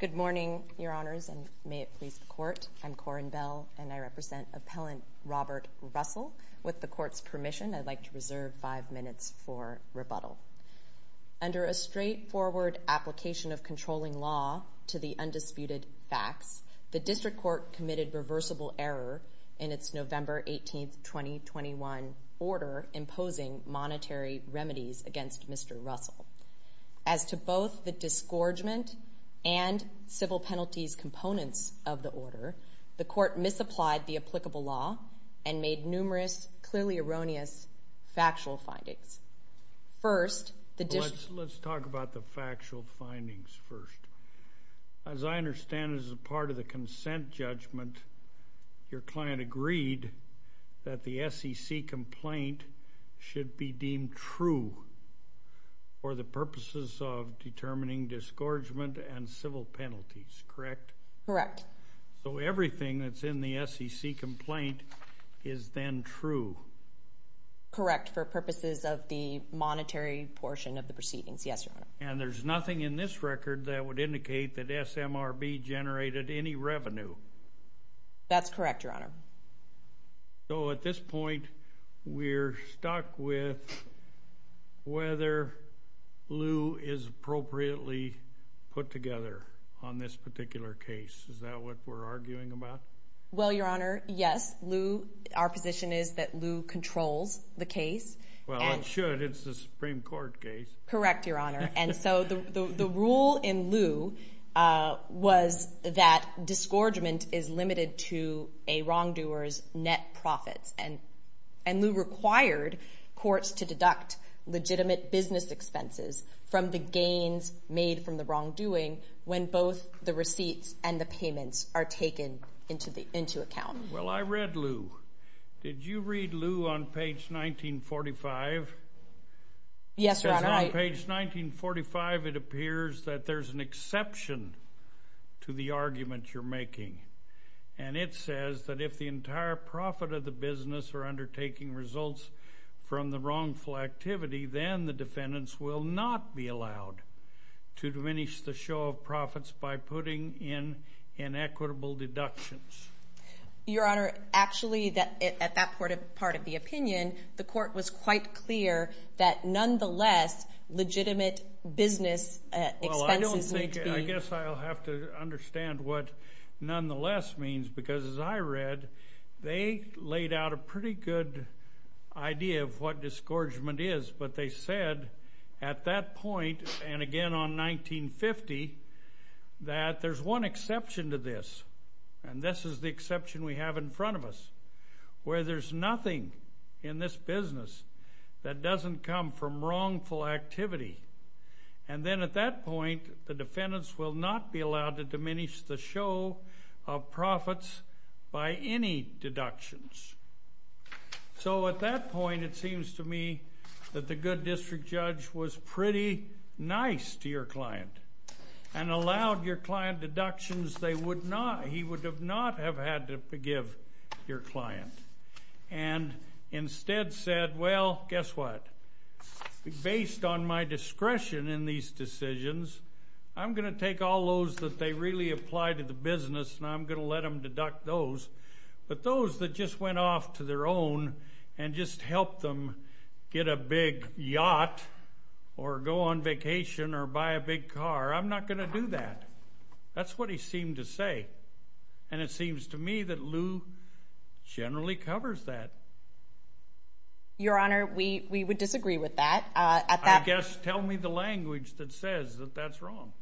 Good morning, Your Honors, and may it please the Court, I'm Corinne Bell, and I represent Appellant Robert Russell. With the Court's permission, I'd like to reserve five minutes for rebuttal. Under a straightforward application of controlling law to the undisputed facts, the District Court committed reversible error in its November 18, 2021, order imposing monetary remedies against Mr. Russell. As to both the disgorgement and civil penalties components of the order, the Court misapplied the applicable law and made numerous clearly erroneous factual findings. First, the District... Let's talk about the factual findings first. As I understand, as a part of the consent judgment, your client agreed that the SEC complaint should be deemed true for the purposes of determining disgorgement and civil penalties, correct? Correct. So everything that's in the SEC complaint is then true? Correct, for purposes of the monetary portion of the proceedings, yes, Your Honor. And there's nothing in this record that would indicate that SMRB generated any revenue? That's correct, Your Honor. So at this point, we're stuck with whether Lew is appropriately put together on this particular case. Is that what we're arguing about? Well, Your Honor, yes. Our position is that Lew controls the case. Well, it should. It's the Supreme Court case. Correct, Your Honor. And so the rule in Lew was that disgorgement is limited to a wrongdoer's net profits. And Lew required courts to deduct legitimate business expenses from the gains made from the wrongdoing when both the receipts and the payments are taken into account. Well, I read Lew. Did you read Lew on page 1945? Yes, Your Honor, I did. It says on page 1945, it appears that there's an exception to the argument you're making. And it says that if the entire profit of the business are undertaking results from the inflectivity, then the defendants will not be allowed to diminish the show of profits by putting in inequitable deductions. Your Honor, actually, at that part of the opinion, the court was quite clear that nonetheless, legitimate business expenses need to be... Well, I guess I'll have to understand what nonetheless means, because as I read, they laid out a pretty good idea of what disgorgement is. But they said at that point, and again on 1950, that there's one exception to this, and this is the exception we have in front of us, where there's nothing in this business that doesn't come from wrongful activity. And then at that point, the defendants will not be allowed to diminish the show of profits by any deductions. So at that point, it seems to me that the good district judge was pretty nice to your client and allowed your client deductions they would not... He would not have had to forgive your client, and instead said, well, guess what? Based on my discretion in these decisions, I'm going to take all those that they really apply to the business, and I'm going to let them deduct those. But those that just went off to their own and just helped them get a big yacht or go on vacation or buy a big car, I'm not going to do that. That's what he seemed to say. And it seems to me that Lew generally covers that. Your Honor, we would disagree with that. I guess, tell me the language that says that that's wrong.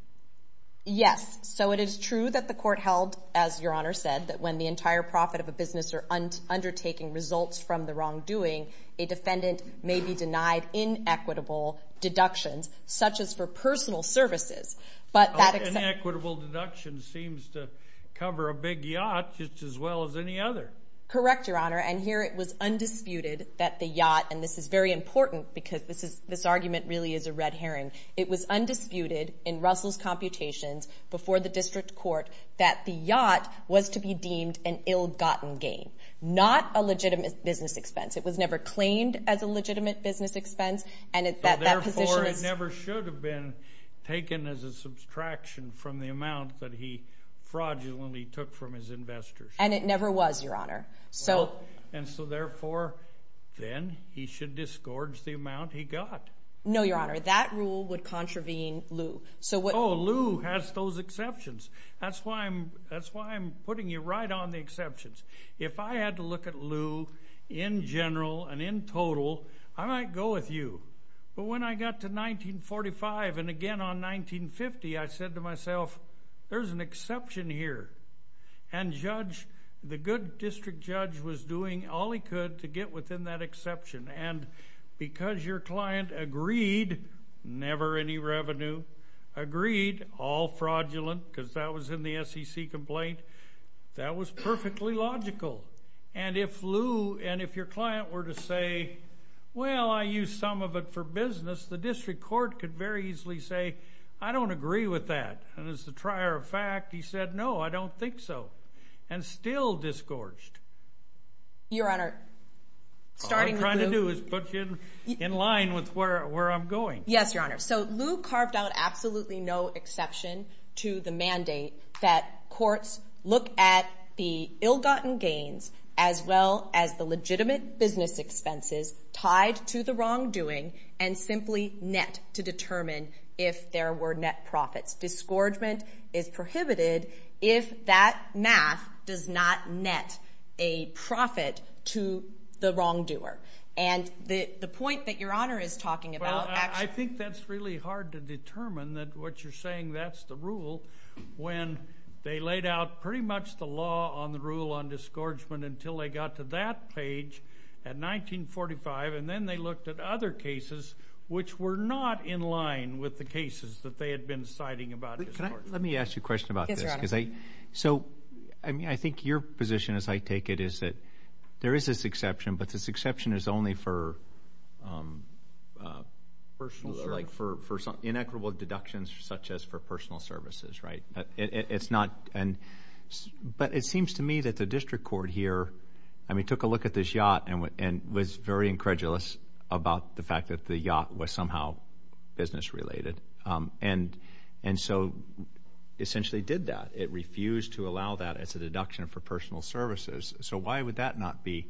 Yes. So it is true that the court held, as Your Honor said, that when the entire profit of a business are undertaking results from the wrongdoing, a defendant may be denied inequitable deductions, such as for personal services, but that... Inequitable deductions seems to cover a big yacht just as well as any other. Correct, Your Honor. And here it was undisputed that the yacht, and this is very important because this argument really is a red herring. It was undisputed in Russell's computations before the district court that the yacht was to be deemed an ill-gotten gain, not a legitimate business expense. It was never claimed as a legitimate business expense, and that that position is... Therefore, it never should have been taken as a subtraction from the amount that he fraudulently took from his investors. And it never was, Your Honor. And so therefore, then, he should disgorge the amount he got. No, Your Honor. That rule would contravene Lew. So what... Oh, Lew has those exceptions. That's why I'm putting you right on the exceptions. If I had to look at Lew in general and in total, I might go with you, but when I got to 1945 and again on 1950, I said to myself, there's an exception here. And the good district judge was doing all he could to get within that exception. And because your client agreed, never any revenue, agreed, all fraudulent, because that was in the SEC complaint, that was perfectly logical. And if Lew and if your client were to say, well, I used some of it for business, the district court could very easily say, I don't agree with that. And as a trier of fact, he said, no, I don't think so, and still disgorged. Your Honor, starting with Lew. What I'm going to do is put you in line with where I'm going. Yes, Your Honor. So Lew carved out absolutely no exception to the mandate that courts look at the ill-gotten gains as well as the legitimate business expenses tied to the wrongdoing and simply net to determine if there were net profits. Disgorgement is prohibited if that math does not net a profit to the wrongdoer. And the point that Your Honor is talking about, actually. Well, I think that's really hard to determine that what you're saying, that's the rule, when they laid out pretty much the law on the rule on disgorgement until they got to that page at 1945. And then they looked at other cases which were not in line with the cases that they had been citing about it. Let me ask you a question about this. Yes, Your Honor. So, I mean, I think your position as I take it is that there is this exception, but this exception is only for inequitable deductions such as for personal services, right? But it seems to me that the district court here, I mean, took a look at this yacht and was very incredulous about the fact that the yacht was somehow business related. And so, essentially did that. It refused to allow that as a deduction for personal services. So why would that not be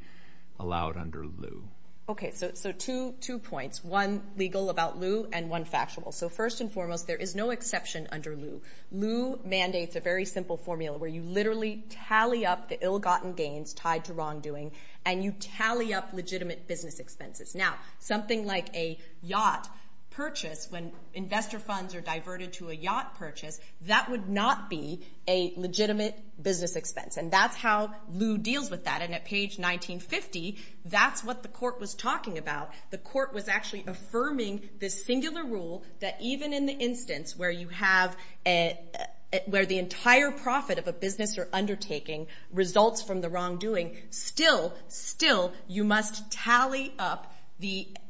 allowed under Lew? Okay. So two points. One legal about Lew and one factual. So first and foremost, there is no exception under Lew. Lew mandates a very simple formula where you literally tally up the ill-gotten gains tied to wrongdoing and you tally up legitimate business expenses. Now, something like a yacht purchase when investor funds are diverted to a yacht purchase, that would not be a legitimate business expense. And that's how Lew deals with that. And at page 1950, that's what the court was talking about. The court was actually affirming this singular rule that even in the instance where you have where the entire profit of a business or undertaking results from the wrongdoing, still, still, you must tally up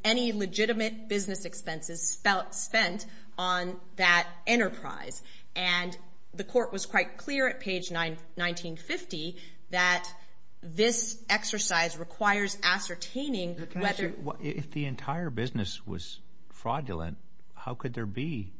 any legitimate business expenses spent on that enterprise. And the court was quite clear at page 1950 that this exercise requires ascertaining whether If the entire business was fraudulent, how could there be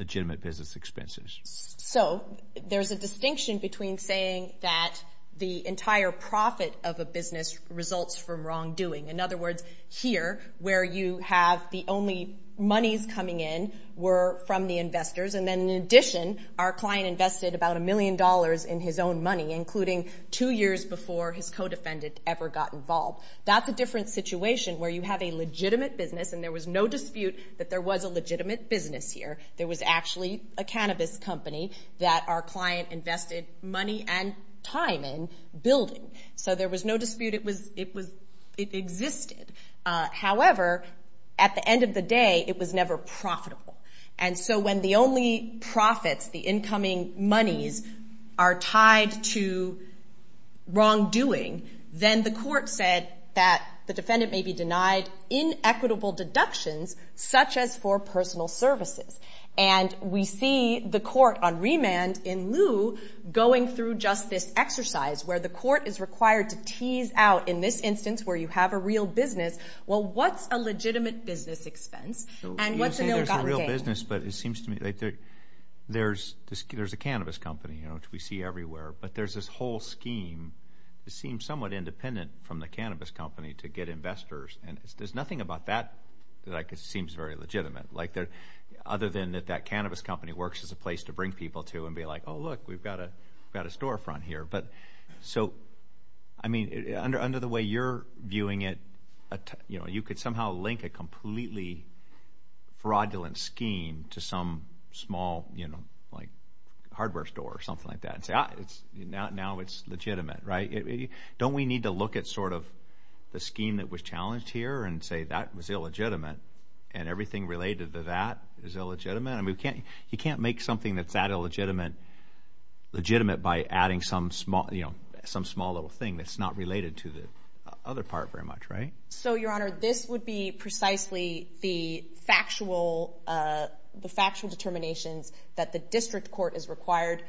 legitimate business expenses? So there's a distinction between saying that the entire profit of a business results from wrongdoing. In other words, here, where you have the only monies coming in were from the investors and then in addition, our client invested about a million dollars in his own money, including two years before his co-defendant ever got involved. That's a different situation where you have a legitimate business and there was no dispute that there was a legitimate business here. There was actually a cannabis company that our client invested money and time in building. So there was no dispute. It existed. However, at the end of the day, it was never profitable. And so when the only profits, the incoming monies, are tied to wrongdoing, then the court said that the defendant may be denied inequitable deductions, such as for personal services. And we see the court on remand in lieu going through just this exercise where the court is required to tease out in this instance where you have a real business, well, what's a legitimate business expense and what's an ill-gotten gain? But it seems to me that there's a cannabis company, which we see everywhere, but there's this whole scheme that seems somewhat independent from the cannabis company to get investors. And there's nothing about that that seems very legitimate, other than that that cannabis company works as a place to bring people to and be like, oh, look, we've got a storefront here. So under the way you're viewing it, you could somehow link a completely fraudulent scheme to some small hardware store or something like that and say, ah, now it's legitimate. Don't we need to look at the scheme that was challenged here and say that was illegitimate and everything related to that is illegitimate? You can't make something that's that illegitimate legitimate by adding some small little thing that's not related to the other part very much, right? So Your Honor, this would be precisely the factual determinations that the district court is required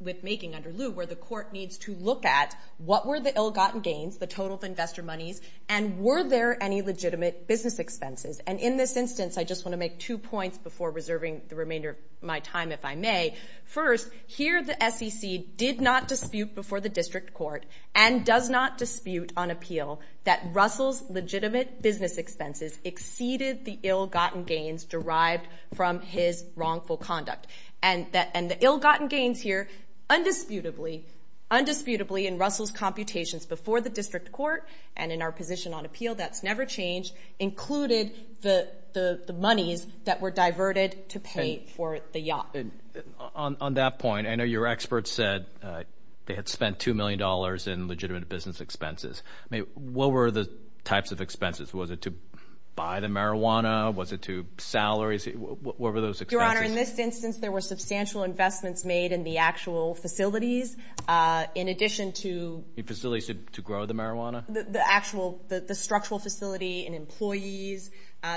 with making under lieu, where the court needs to look at what were the ill-gotten gains, the total of investor monies, and were there any legitimate business expenses? And in this instance, I just want to make two points before reserving the remainder of my time, if I may. First, here the SEC did not dispute before the district court and does not dispute on that Russell's legitimate business expenses exceeded the ill-gotten gains derived from his wrongful conduct. And the ill-gotten gains here, undisputably, undisputably in Russell's computations before the district court and in our position on appeal, that's never changed, included the monies that were diverted to pay for the yacht. On that point, I know your expert said they had spent $2 million in legitimate business expenses. What were the types of expenses? Was it to buy the marijuana? Was it to salaries? What were those expenses? Your Honor, in this instance, there were substantial investments made in the actual facilities, in addition to... The facilities to grow the marijuana? The actual, the structural facility and employees.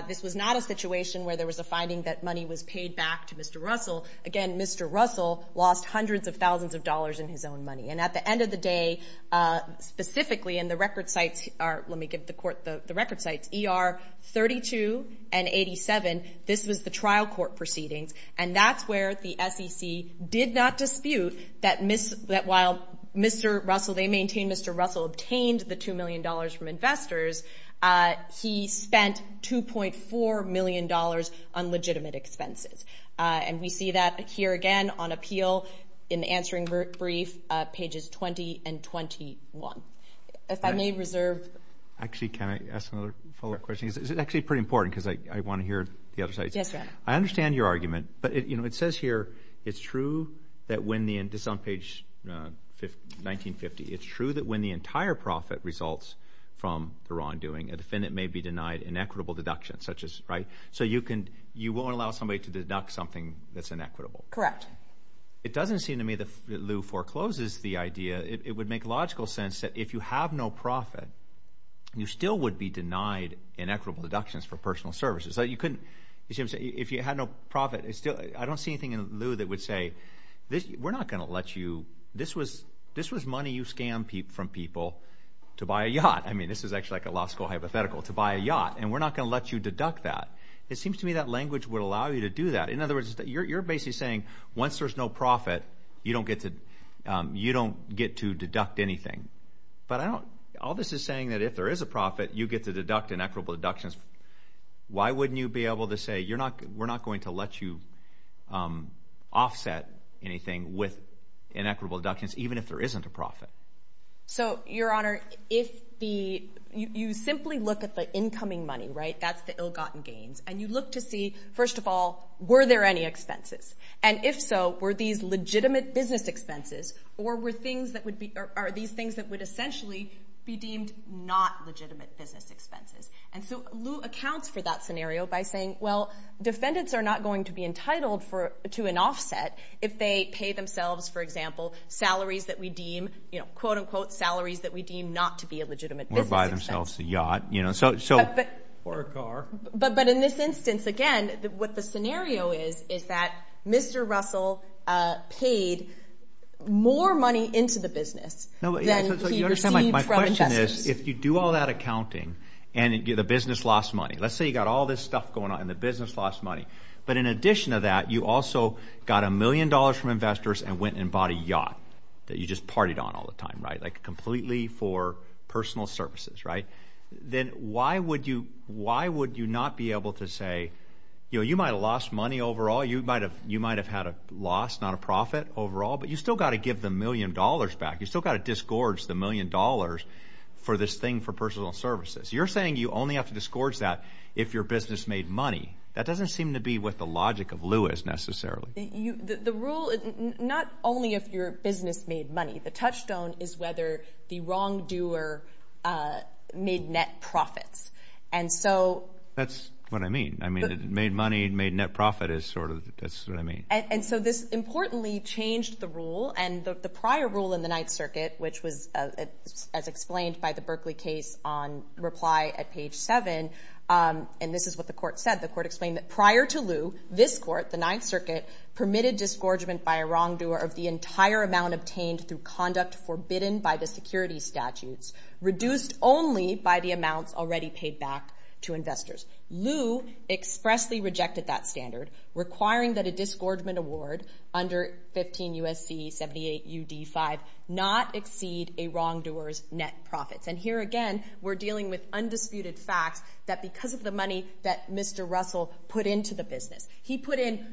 This was not a situation where there was a finding that money was paid back to Mr. Russell. Again, Mr. Russell lost hundreds of thousands of dollars in his own money. And at the end of the day, specifically in the record sites, let me give the court the record sites, ER 32 and 87, this was the trial court proceedings. And that's where the SEC did not dispute that while Mr. Russell, they maintain Mr. Russell obtained the $2 million from investors, he spent $2.4 million on legitimate expenses. And we see that here again on appeal in the answering brief, pages 20 and 21. If I may reserve... Actually, can I ask another follow-up question? Is it actually pretty important? Because I want to hear the other side. Yes, Your Honor. I understand your argument, but it says here, it's true that when the, this is on page 1950, it's true that when the entire profit results from the wrongdoing, a defendant may be denied an equitable deduction, such as, right? So you can, you won't allow somebody to deduct something that's inequitable. Correct. It doesn't seem to me that Lew forecloses the idea. It would make logical sense that if you have no profit, you still would be denied inequitable deductions for personal services. So you couldn't, if you had no profit, it's still, I don't see anything in Lew that would say this, we're not going to let you, this was, this was money you scammed from people to buy a yacht. I mean, this is actually like a law school hypothetical, to buy a yacht, and we're not going to let you deduct that. It seems to me that language would allow you to do that. In other words, you're, you're basically saying once there's no profit, you don't get to, you don't get to deduct anything, but I don't, all this is saying that if there is a profit, you get to deduct inequitable deductions. Why wouldn't you be able to say, you're not, we're not going to let you offset anything with inequitable deductions, even if there isn't a profit? So Your Honor, if the, you simply look at the incoming money, right, that's the ill-gotten gains, and you look to see, first of all, were there any expenses? And if so, were these legitimate business expenses, or were things that would be, or are these things that would essentially be deemed not legitimate business expenses? And so Lew accounts for that scenario by saying, well, defendants are not going to be entitled for, to an offset if they pay themselves, for example, salaries that we deem, you know, quote, unquote, salaries that we deem not to be a legitimate business expense. Or buy themselves a yacht, you know, so, so. Or a car. But, but in this instance, again, what the scenario is, is that Mr. Russell paid more money into the business than he received from investors. My question is, if you do all that accounting, and the business lost money, let's say you have all this stuff going on, and the business lost money, but in addition to that, you also got a million dollars from investors and went and bought a yacht that you just partied on all the time, right, like completely for personal services, right? Then why would you, why would you not be able to say, you know, you might have lost money overall, you might have, you might have had a loss, not a profit overall, but you still got to give the million dollars back, you still got to disgorge the million dollars for this thing for personal services. You're saying you only have to disgorge that if your business made money. That doesn't seem to be what the logic of lieu is, necessarily. The rule, not only if your business made money. The touchstone is whether the wrongdoer made net profits. And so. That's what I mean. I mean, made money, made net profit is sort of, that's what I mean. And so this, importantly, changed the rule, and the prior rule in the Ninth Circuit, which was, as explained by the Berkeley case on reply at page seven, and this is what the court said, the court explained that prior to lieu, this court, the Ninth Circuit, permitted disgorgement by a wrongdoer of the entire amount obtained through conduct forbidden by the security statutes, reduced only by the amounts already paid back to investors. Lieu expressly rejected that standard, requiring that a disgorgement award under 15 U.S.C. 78 U.D. 5 not exceed a wrongdoer's net profits. And here again, we're dealing with undisputed facts that because of the money that Mr. Russell put into the business, he put in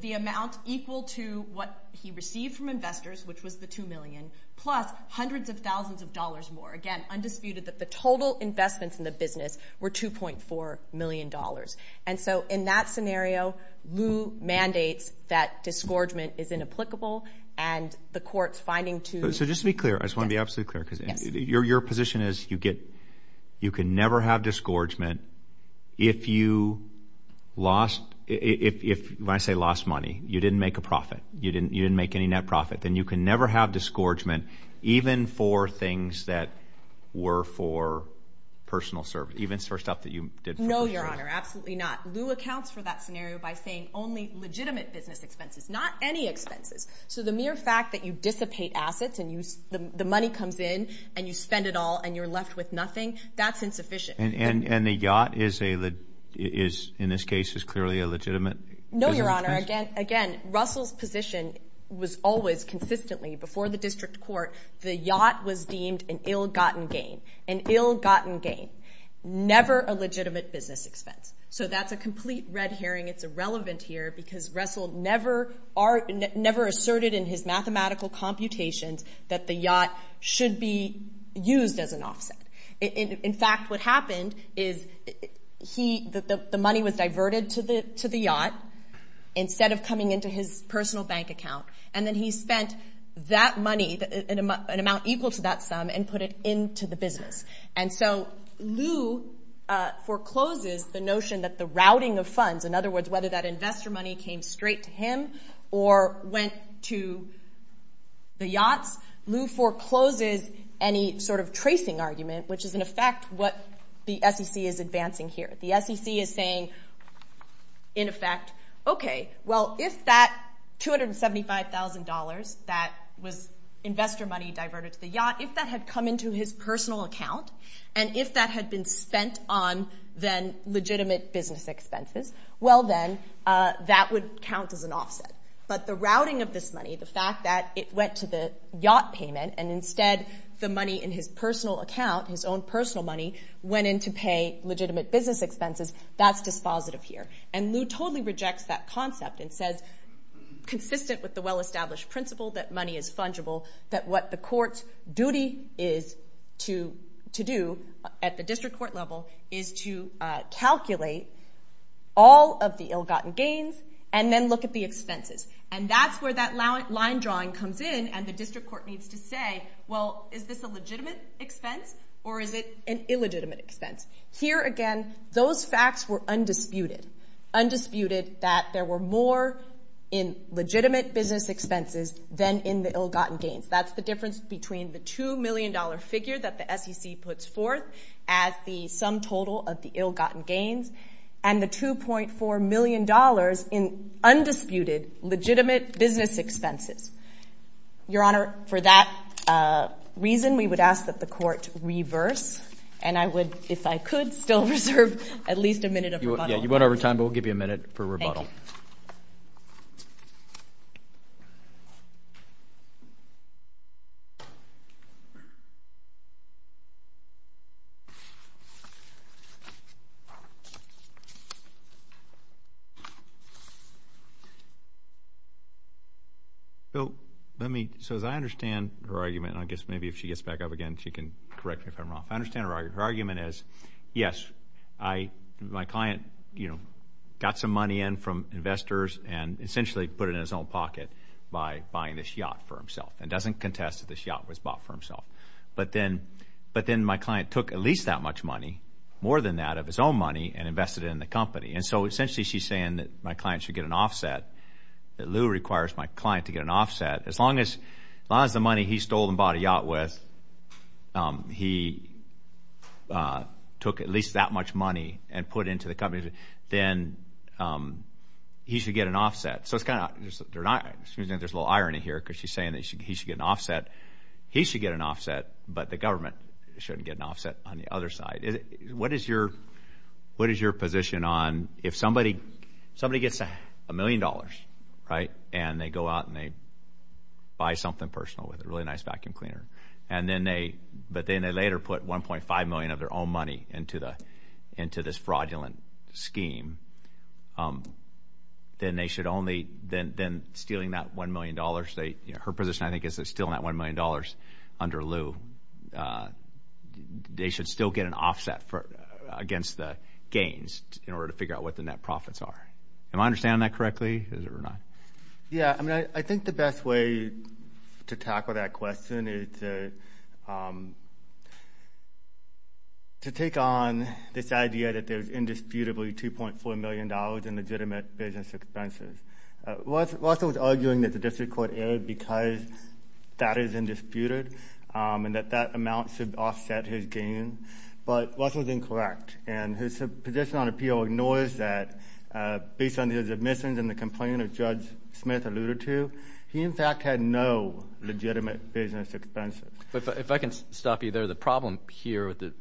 the amount equal to what he received from investors, which was the two million, plus hundreds of thousands of dollars more, again, undisputed that the total investments in the business were 2.4 million dollars. And so, in that scenario, lieu mandates that disgorgement is inapplicable, and the court's finding to... So just to be clear, I just want to be absolutely clear, because your position is you can never have disgorgement if you lost, when I say lost money, you didn't make a profit, you didn't make any net profit, then you can never have disgorgement even for things that were No, your honor, absolutely not. Lieu accounts for that scenario by saying only legitimate business expenses, not any expenses. So the mere fact that you dissipate assets and the money comes in and you spend it all and you're left with nothing, that's insufficient. And the yacht is, in this case, is clearly a legitimate business case? No, your honor, again, Russell's position was always consistently, before the district court, the yacht was deemed an ill-gotten gain, an ill-gotten gain. Never a legitimate business expense. So that's a complete red herring, it's irrelevant here, because Russell never asserted in his mathematical computations that the yacht should be used as an offset. In fact, what happened is the money was diverted to the yacht, instead of coming into his personal bank account, and then he spent that money, an amount equal to that sum, and put it into the business. And so Lieu forecloses the notion that the routing of funds, in other words, whether that investor money came straight to him or went to the yachts, Lieu forecloses any sort of tracing argument, which is, in effect, what the SEC is advancing here. The SEC is saying, in effect, okay, well, if that $275,000 that was investor money diverted to the yacht, if that had come into his personal account, and if that had been spent on, then, legitimate business expenses, well then, that would count as an offset. But the routing of this money, the fact that it went to the yacht payment, and instead the money in his personal account, his own personal money, went in to pay legitimate business expenses, that's dispositive here. And Lieu totally rejects that concept and says, consistent with the well-established principle that money is fungible, that what the court's duty is to do at the district court level is to calculate all of the ill-gotten gains, and then look at the expenses. And that's where that line drawing comes in, and the district court needs to say, well, is this a legitimate expense, or is it an illegitimate expense? Here again, those facts were undisputed, undisputed that there were more in legitimate business expenses than in the ill-gotten gains. That's the difference between the $2 million figure that the SEC puts forth as the sum total of the ill-gotten gains, and the $2.4 million in undisputed, legitimate business expenses. Your Honor, for that reason, we would ask that the court reverse, and I would, if I could, still reserve at least a minute of rebuttal. You won't have your time, but we'll give you a minute for rebuttal. Thank you. So as I understand her argument, and I guess maybe if she gets back up again, she can correct me if I'm wrong. I understand her argument is, yes, my client got some money in from investors and essentially put it in his own pocket by buying this yacht for himself, and doesn't contest that this yacht was bought for himself. But then my client took at least that much money, more than that of his own money, and invested it in the company. And so essentially, she's saying that my client should get an offset, that Lew requires my client to get an offset. As long as the money he stole and bought a yacht with, he took at least that much money and put it into the company, then he should get an offset. So it's kind of, there's a little irony here, because she's saying that he should get an offset. He should get an offset, but the government shouldn't get an offset on the other side. What is your position on if somebody gets a million dollars, right, and they go out and they buy something personal with it, a really nice vacuum cleaner, but then they later put $1.5 million of their own money into this fraudulent scheme, then they should only, then stealing that $1 million, her position I think is that stealing that $1 million under Lew, they should still get an offset against the gains in order to figure out what the net profits are. Am I understanding that correctly, is it or not? Yeah, I mean, I think the best way to tackle that question is to take on this idea that there's indisputably $2.4 million in legitimate business expenses. Russell was arguing that the district court erred because that is indisputed and that that amount should offset his gain, but Russell's incorrect, and his position on appeal ignores that based on his admissions and the complaint of Judge Smith alluded to, he in fact had no legitimate business expenses. If I can stop you there, the problem here with the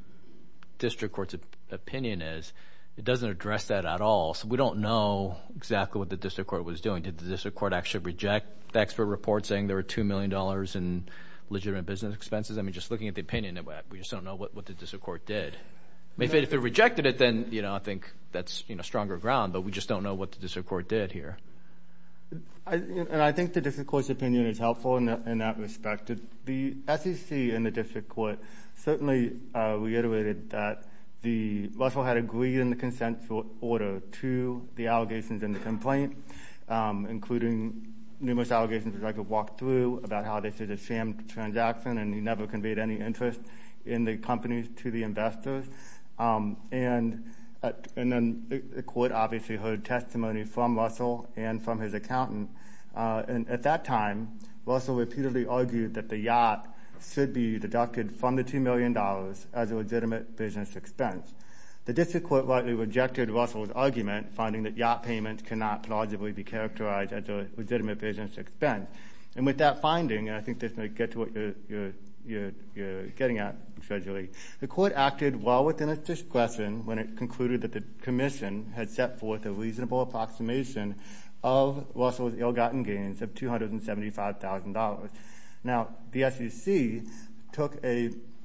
district court's opinion is it doesn't address that at all, so we don't know exactly what the district court was doing. Did the district court actually reject the expert report saying there were $2 million in legitimate business expenses? I mean, just looking at the opinion, we just don't know what the district court did. If it rejected it, then, you know, I think that's, you know, stronger ground, but we just don't know what the district court did here. And I think the district court's opinion is helpful in that respect. The SEC and the district court certainly reiterated that Russell had agreed in the consent order to the allegations in the complaint, including numerous allegations that I could walk through about how this is a sham transaction and he never conveyed any interest in the company to the investors, and then the court obviously heard testimony from Russell and from his accountant, and at that time, Russell repeatedly argued that the yacht should be deducted from the $2 million as a legitimate business expense. The district court rightly rejected Russell's argument, finding that yacht payments cannot plausibly be characterized as a legitimate business expense, and with that finding, and The court acted well within its discretion when it concluded that the commission had set forth a reasonable approximation of Russell's ill-gotten gains of $275,000. Now the SEC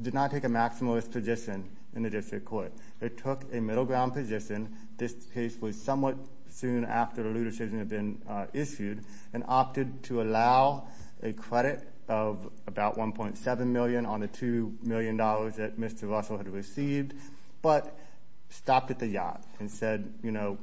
did not take a maximalist position in the district court. It took a middle ground position. This case was somewhat soon after the legal decision had been issued and opted to allow a credit of about $1.7 million on the $2 million that Mr. Russell had received, but stopped at the yacht and said, you know,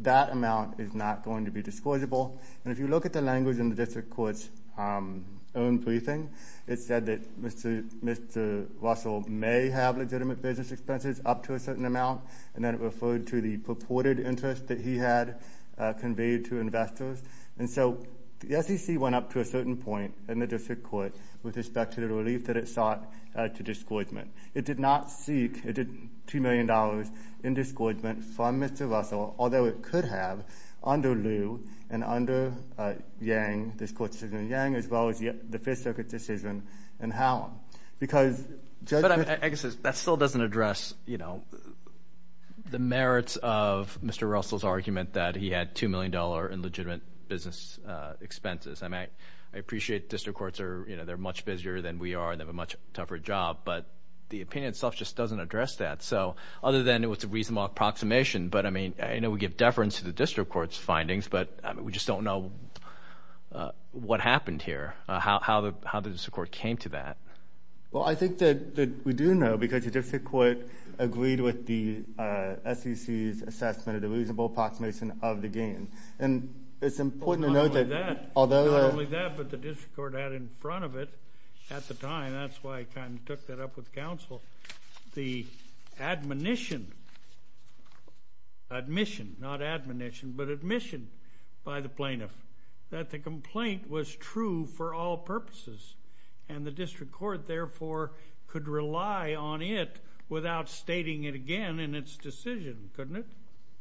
that amount is not going to be disclosable, and if you look at the language in the district court's own briefing, it said that Mr. Russell may have legitimate business expenses up to a certain amount, and then it referred to the purported interest that he had conveyed to investors. And so the SEC went up to a certain point in the district court with respect to the relief that it sought to disclosement. It did not seek, it did $2 million in disclosement from Mr. Russell, although it could have under Liu and under Yang, this court's decision on Yang, as well as the Fifth Circuit's decision in Hallam. Because... But I guess that still doesn't address, you know, the merits of Mr. Russell's argument that he had $2 million in legitimate business expenses. I mean, I appreciate district courts are, you know, they're much busier than we are and they have a much tougher job, but the opinion itself just doesn't address that. So other than it was a reasonable approximation, but I mean, I know we give deference to the district court's findings, but we just don't know what happened here, how the district court came to that. Well, I think that we do know because the district court agreed with the SEC's assessment that it was a reasonable approximation of the gain. And it's important to note that although... Not only that, but the district court had in front of it at the time, that's why I kind of took that up with counsel, the admonition, admission, not admonition, but admission by the plaintiff that the complaint was true for all purposes. And the district court, therefore, could rely on it without stating it again in its decision, couldn't it?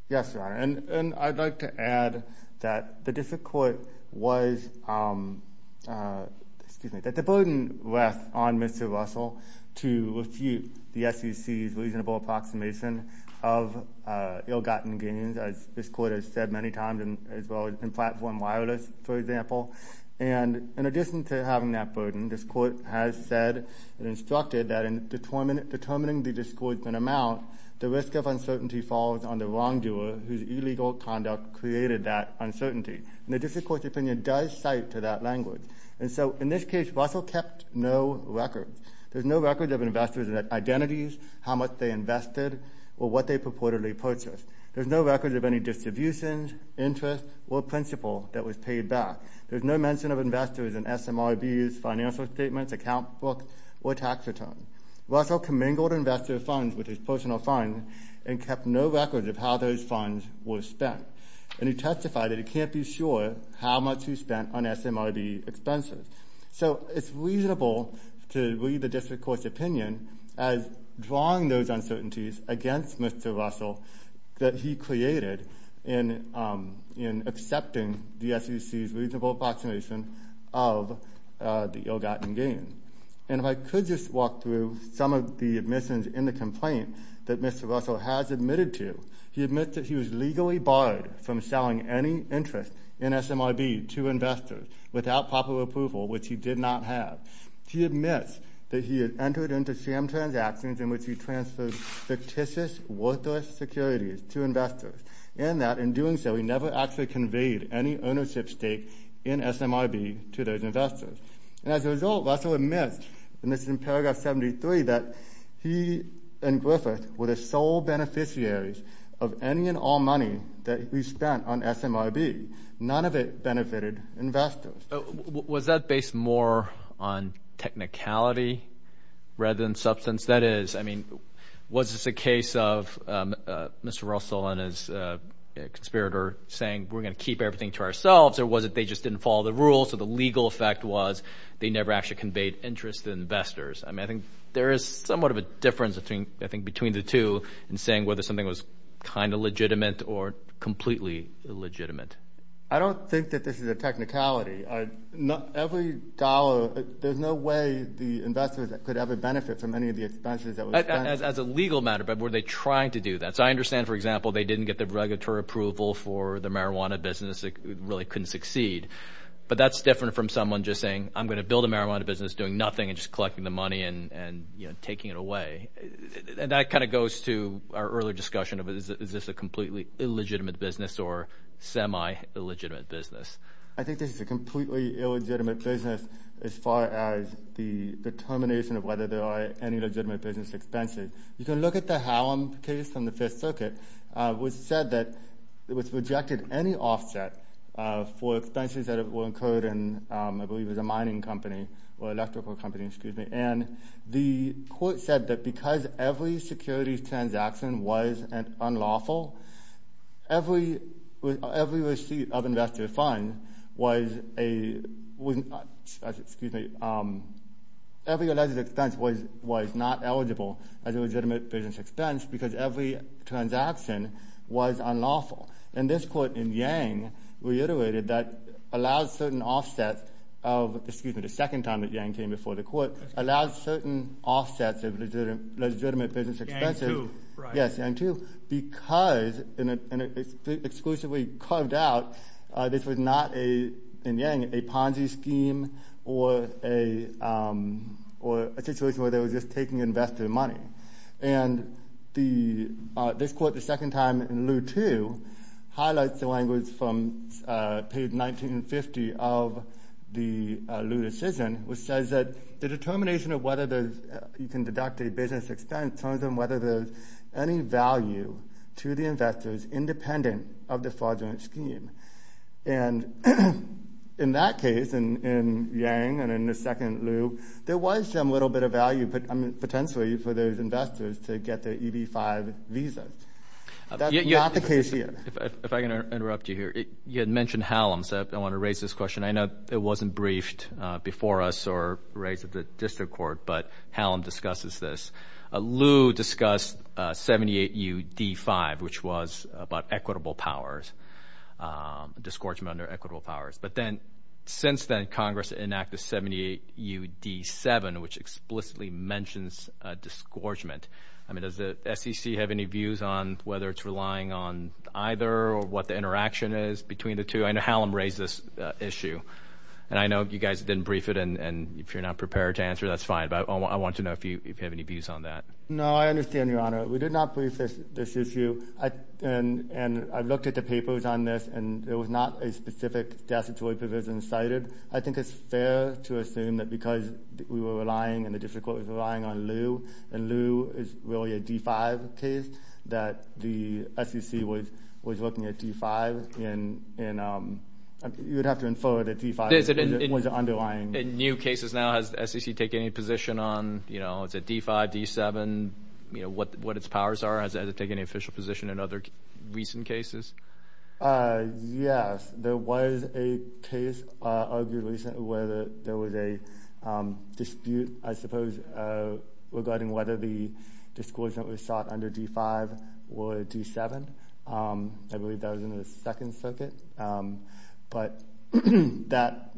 Yes, Your Honor. And I'd like to add that the district court was, excuse me, that the burden rests on Mr. Russell to refute the SEC's reasonable approximation of ill-gotten gains, as this court has said many times, as well as in platform wireless, for example. And in addition to having that burden, this court has said and instructed that in determining the disgorgement amount, the risk of uncertainty falls on the wrongdoer whose illegal conduct created that uncertainty. And the district court's opinion does cite to that language. And so in this case, Russell kept no record. There's no record of investors' identities, how much they invested, or what they purportedly purchased. There's no record of any distributions, interest, or principal that was paid back. There's no mention of investors in SMRBs, financial statements, account books, or tax returns. Russell commingled investor funds with his personal funds and kept no record of how those funds were spent. And he testified that he can't be sure how much he spent on SMRB expenses. So it's reasonable to read the district court's opinion as drawing those uncertainties against Mr. Russell that he created in accepting the SEC's reasonable approximation of the ill-gotten gains. And if I could just walk through some of the admissions in the complaint that Mr. Russell has admitted to, he admits that he was legally barred from selling any interest in SMRB to investors without proper approval, which he did not have. He admits that he had entered into SAM transactions in which he transferred fictitious worthless securities to investors, and that in doing so, he never actually conveyed any ownership stake in SMRB to those investors. And as a result, Russell admits, and this is in paragraph 73, that he and Griffith were the sole beneficiaries of any and all money that he spent on SMRB. None of it benefited investors. Was that based more on technicality rather than substance? That is, I mean, was this a case of Mr. Russell and his conspirator saying, we're going to keep everything to ourselves, or was it they just didn't follow the rules, so the legal effect was they never actually conveyed interest to investors? I mean, I think there is somewhat of a difference, I think, between the two in saying whether something was kind of legitimate or completely illegitimate. I don't think that this is a technicality. Every dollar, there's no way the investors could ever benefit from any of the expenses that was spent. As a legal matter, but were they trying to do that? So I understand, for example, they didn't get the regulatory approval for the marijuana business, it really couldn't succeed. But that's different from someone just saying, I'm going to build a marijuana business doing nothing and just collecting the money and, you know, taking it away. And that kind of goes to our earlier discussion of is this a completely illegitimate business or semi-illegitimate business? I think this is a completely illegitimate business as far as the determination of whether there are any legitimate business expenses. You can look at the Hallam case from the Fifth Circuit, which said that it was rejected any offset for expenses that were incurred in, I believe, it was a mining company or electrical company, excuse me. And the court said that because every securities transaction was unlawful, every receipt of investor funds was a, excuse me, every alleged expense was not eligible as a legitimate business expense because every transaction was unlawful. And this court in Yang reiterated that allows certain offsets of, excuse me, the second time that Yang came before the court, allows certain offsets of legitimate business expenses. Yang 2, right. Yes, Yang 2, because exclusively carved out, this was not a, in Yang, a Ponzi scheme or a situation where they were just taking investor money. And this court, the second time in Liu 2, highlights the language from page 1950 of the Liu decision, which says that the determination of whether you can deduct a business expense on whether there's any value to the investors independent of the fraudulent scheme. And in that case, in Yang and in the second Liu, there was some little bit of value, potentially for those investors to get their EB-5 visa. That's not the case here. If I can interrupt you here, you had mentioned Hallam, so I want to raise this question. I know it wasn't briefed before us or raised at the district court, but Hallam discusses this. Liu discussed 78 U.D. 5, which was about equitable powers, disgorgement under equitable powers. But then, since then, Congress enacted 78 U.D. 7, which explicitly mentions disgorgement. I mean, does the SEC have any views on whether it's relying on either or what the interaction is between the two? I know Hallam raised this issue, and I know you guys didn't brief it, and if you're not prepared to answer, that's fine, but I want to know if you have any views on that. No, I understand, Your Honor. We did not brief this issue, and I looked at the papers on this, and there was not a joint provision cited. I think it's fair to assume that because we were relying, and the district court was relying on Liu, and Liu is really a D-5 case, that the SEC was looking at D-5, and you would have to infer that D-5 was the underlying. In new cases now, has the SEC taken any position on, you know, is it D-5, D-7, you know, what its powers are? Has it taken any official position in other recent cases? Yes. There was a case argued recently where there was a dispute, I suppose, regarding whether the disclosure that was sought under D-5 were D-7. I believe that was in the Second Circuit, but that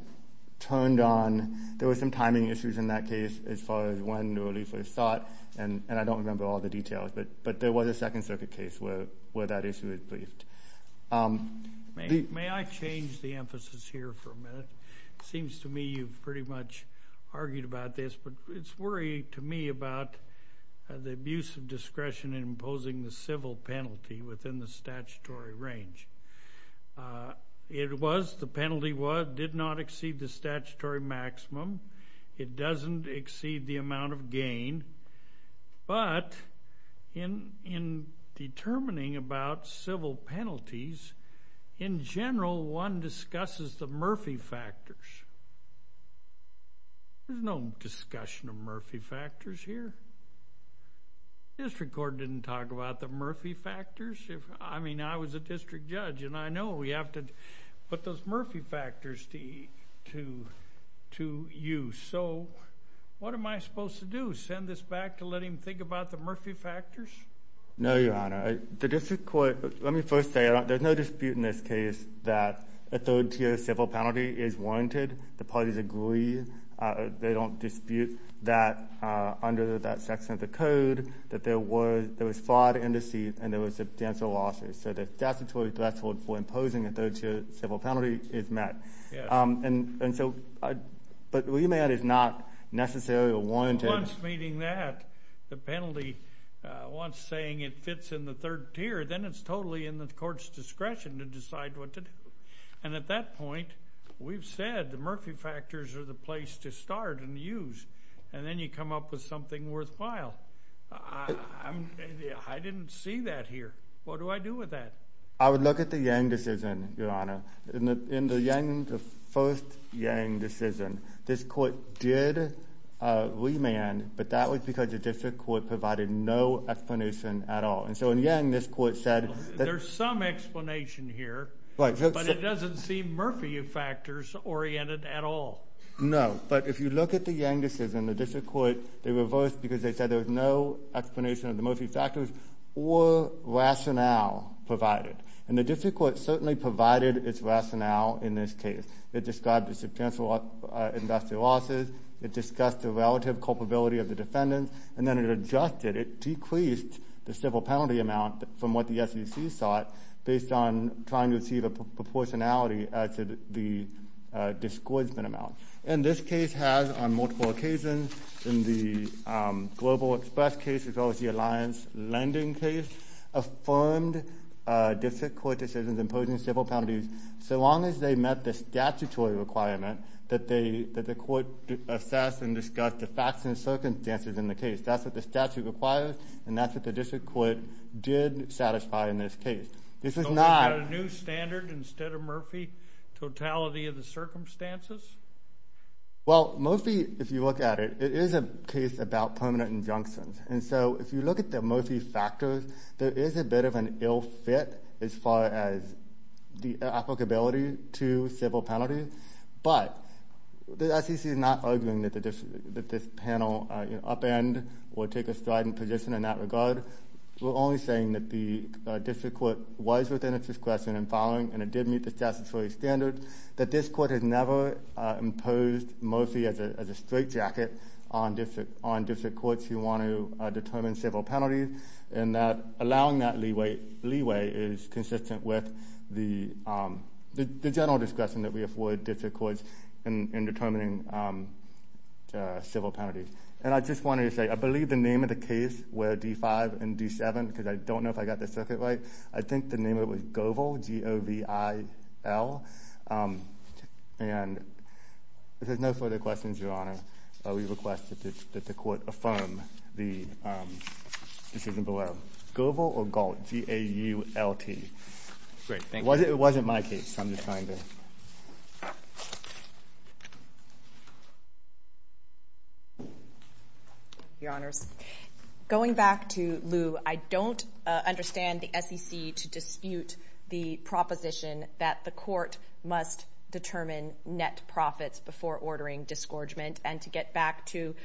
turned on, there were some timing issues in that case as far as when the relief was sought, and I don't remember all the details, but there was a Second Circuit case where that issue was briefed. May I change the emphasis here for a minute? It seems to me you've pretty much argued about this, but it's worrying to me about the abuse of discretion in imposing the civil penalty within the statutory range. It was, the penalty was, did not exceed the statutory maximum, it doesn't exceed the amount of gain, but in determining about civil penalties, in general, one discusses the Murphy factors. There's no discussion of Murphy factors here. District Court didn't talk about the Murphy factors. I mean, I was a district judge, and I know we have to put those Murphy factors to use. So, what am I supposed to do, send this back to let him think about the Murphy factors? No, Your Honor, the District Court, let me first say, there's no dispute in this case that a third-tier civil penalty is warranted. The parties agree, they don't dispute that under that section of the code, that there was fraud and deceit, and there was substantial losses, so the statutory threshold for imposing a third-tier civil penalty is met. And so, but remand is not necessarily a warranted... Once meeting that, the penalty, once saying it fits in the third tier, then it's totally in the court's discretion to decide what to do. And at that point, we've said the Murphy factors are the place to start and use, and then you come up with something worthwhile. I didn't see that here. What do I do with that? I would look at the Yang decision, Your Honor. In the Yang, the first Yang decision, this court did remand, but that was because the District Court provided no explanation at all. And so in Yang, this court said... There's some explanation here, but it doesn't seem Murphy factors-oriented at all. No, but if you look at the Yang decision, the District Court, they reversed because they said there was no explanation of the Murphy factors or rationale provided. And the District Court certainly provided its rationale in this case. It described the substantial investor losses. It discussed the relative culpability of the defendants. And then it adjusted, it decreased the civil penalty amount from what the SEC sought based on trying to see the proportionality as to the disgorgement amount. And this case has, on multiple occasions, in the Global Express case as well as the District Court decisions imposing civil penalties, so long as they met the statutory requirement that the court assess and discuss the facts and circumstances in the case. That's what the statute requires, and that's what the District Court did satisfy in this case. This is not... So we've got a new standard instead of Murphy, totality of the circumstances? Well, Murphy, if you look at it, it is a case about permanent injunctions. And so if you look at the Murphy factors, there is a bit of an ill fit as far as the applicability to civil penalties, but the SEC is not arguing that this panel upend or take a strident position in that regard. We're only saying that the District Court was within its discretion in filing, and it did meet the statutory standard, that this court has never imposed Murphy as a straitjacket on District Courts who want to determine civil penalties, and that allowing that leeway is consistent with the general discretion that we afford District Courts in determining civil penalties. And I just wanted to say, I believe the name of the case where D-5 and D-7, because I don't know if I got the circuit right, I think the name of it was Govel, G-O-V-I-L, and if there's no further questions, Your Honor, we request that the court affirm the decision below. Govel or Gault? G-A-U-L-T. Great. Thank you. It wasn't my case. I'm just trying to... Your Honors, going back to Lou, I don't understand the SEC to dispute the proposition that the and to get back to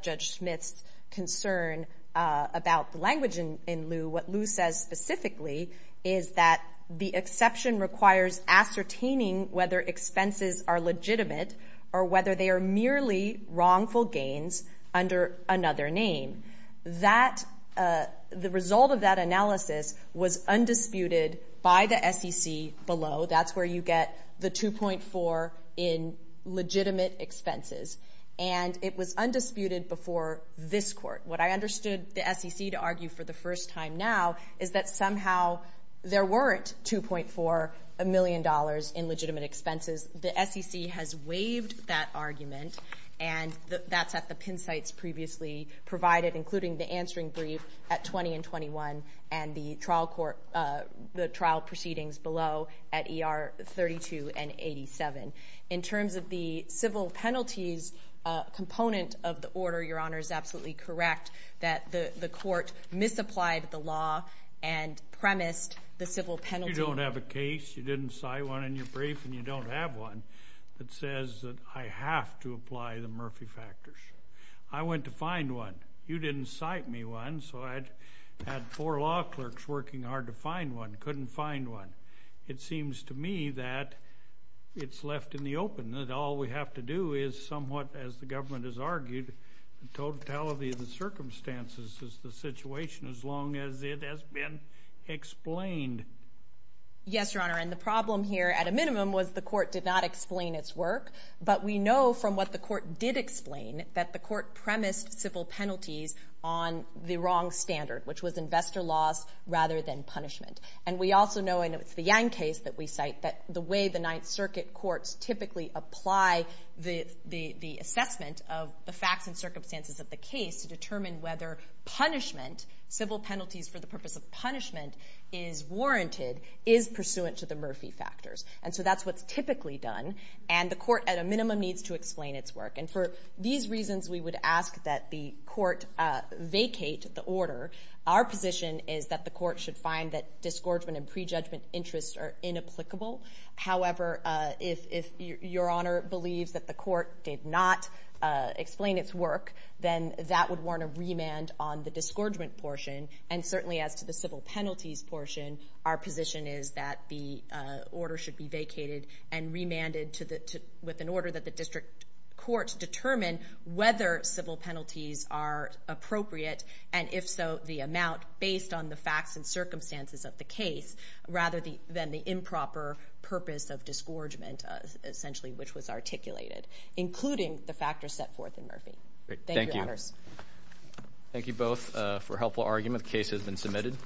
Judge Smith's concern about the language in Lou. What Lou says specifically is that the exception requires ascertaining whether expenses are legitimate or whether they are merely wrongful gains under another name. The result of that analysis was undisputed by the SEC below. That's where you get the 2.4 in legitimate expenses. And it was undisputed before this Court. What I understood the SEC to argue for the first time now is that somehow there weren't 2.4 million dollars in legitimate expenses. The SEC has waived that argument, and that's at the pin sites previously provided, including the answering brief at 20 and 21 and the trial proceedings below at E.R. 32 and 87. In terms of the civil penalties component of the order, Your Honor is absolutely correct that the court misapplied the law and premised the civil penalty. You don't have a case. You didn't cite one in your brief, and you don't have one that says that I have to apply the Murphy factors. I went to find one. You didn't cite me one, so I had four law clerks working hard to find one, couldn't find one. It seems to me that it's left in the open, that all we have to do is somewhat, as the government has argued, the totality of the circumstances is the situation as long as it has been explained. Yes, Your Honor, and the problem here at a minimum was the court did not explain its penalties on the wrong standard, which was investor loss rather than punishment. And we also know, and it's the Yang case that we cite, that the way the Ninth Circuit courts typically apply the assessment of the facts and circumstances of the case to determine whether punishment, civil penalties for the purpose of punishment, is warranted is pursuant to the Murphy factors. And so that's what's typically done, and the court at a minimum needs to explain its work. And for these reasons, we would ask that the court vacate the order. Our position is that the court should find that disgorgement and prejudgment interests are inapplicable. However, if Your Honor believes that the court did not explain its work, then that would warrant a remand on the disgorgement portion. And certainly as to the civil penalties portion, our position is that the order should be vacated and remanded with an order that the district courts determine whether civil penalties are appropriate, and if so, the amount based on the facts and circumstances of the case, rather than the improper purpose of disgorgement, essentially, which was articulated, including the factors set forth in Murphy. Thank you. Thank you. Thank you, Your Honors. Thank you both for a helpful argument. The case has been submitted.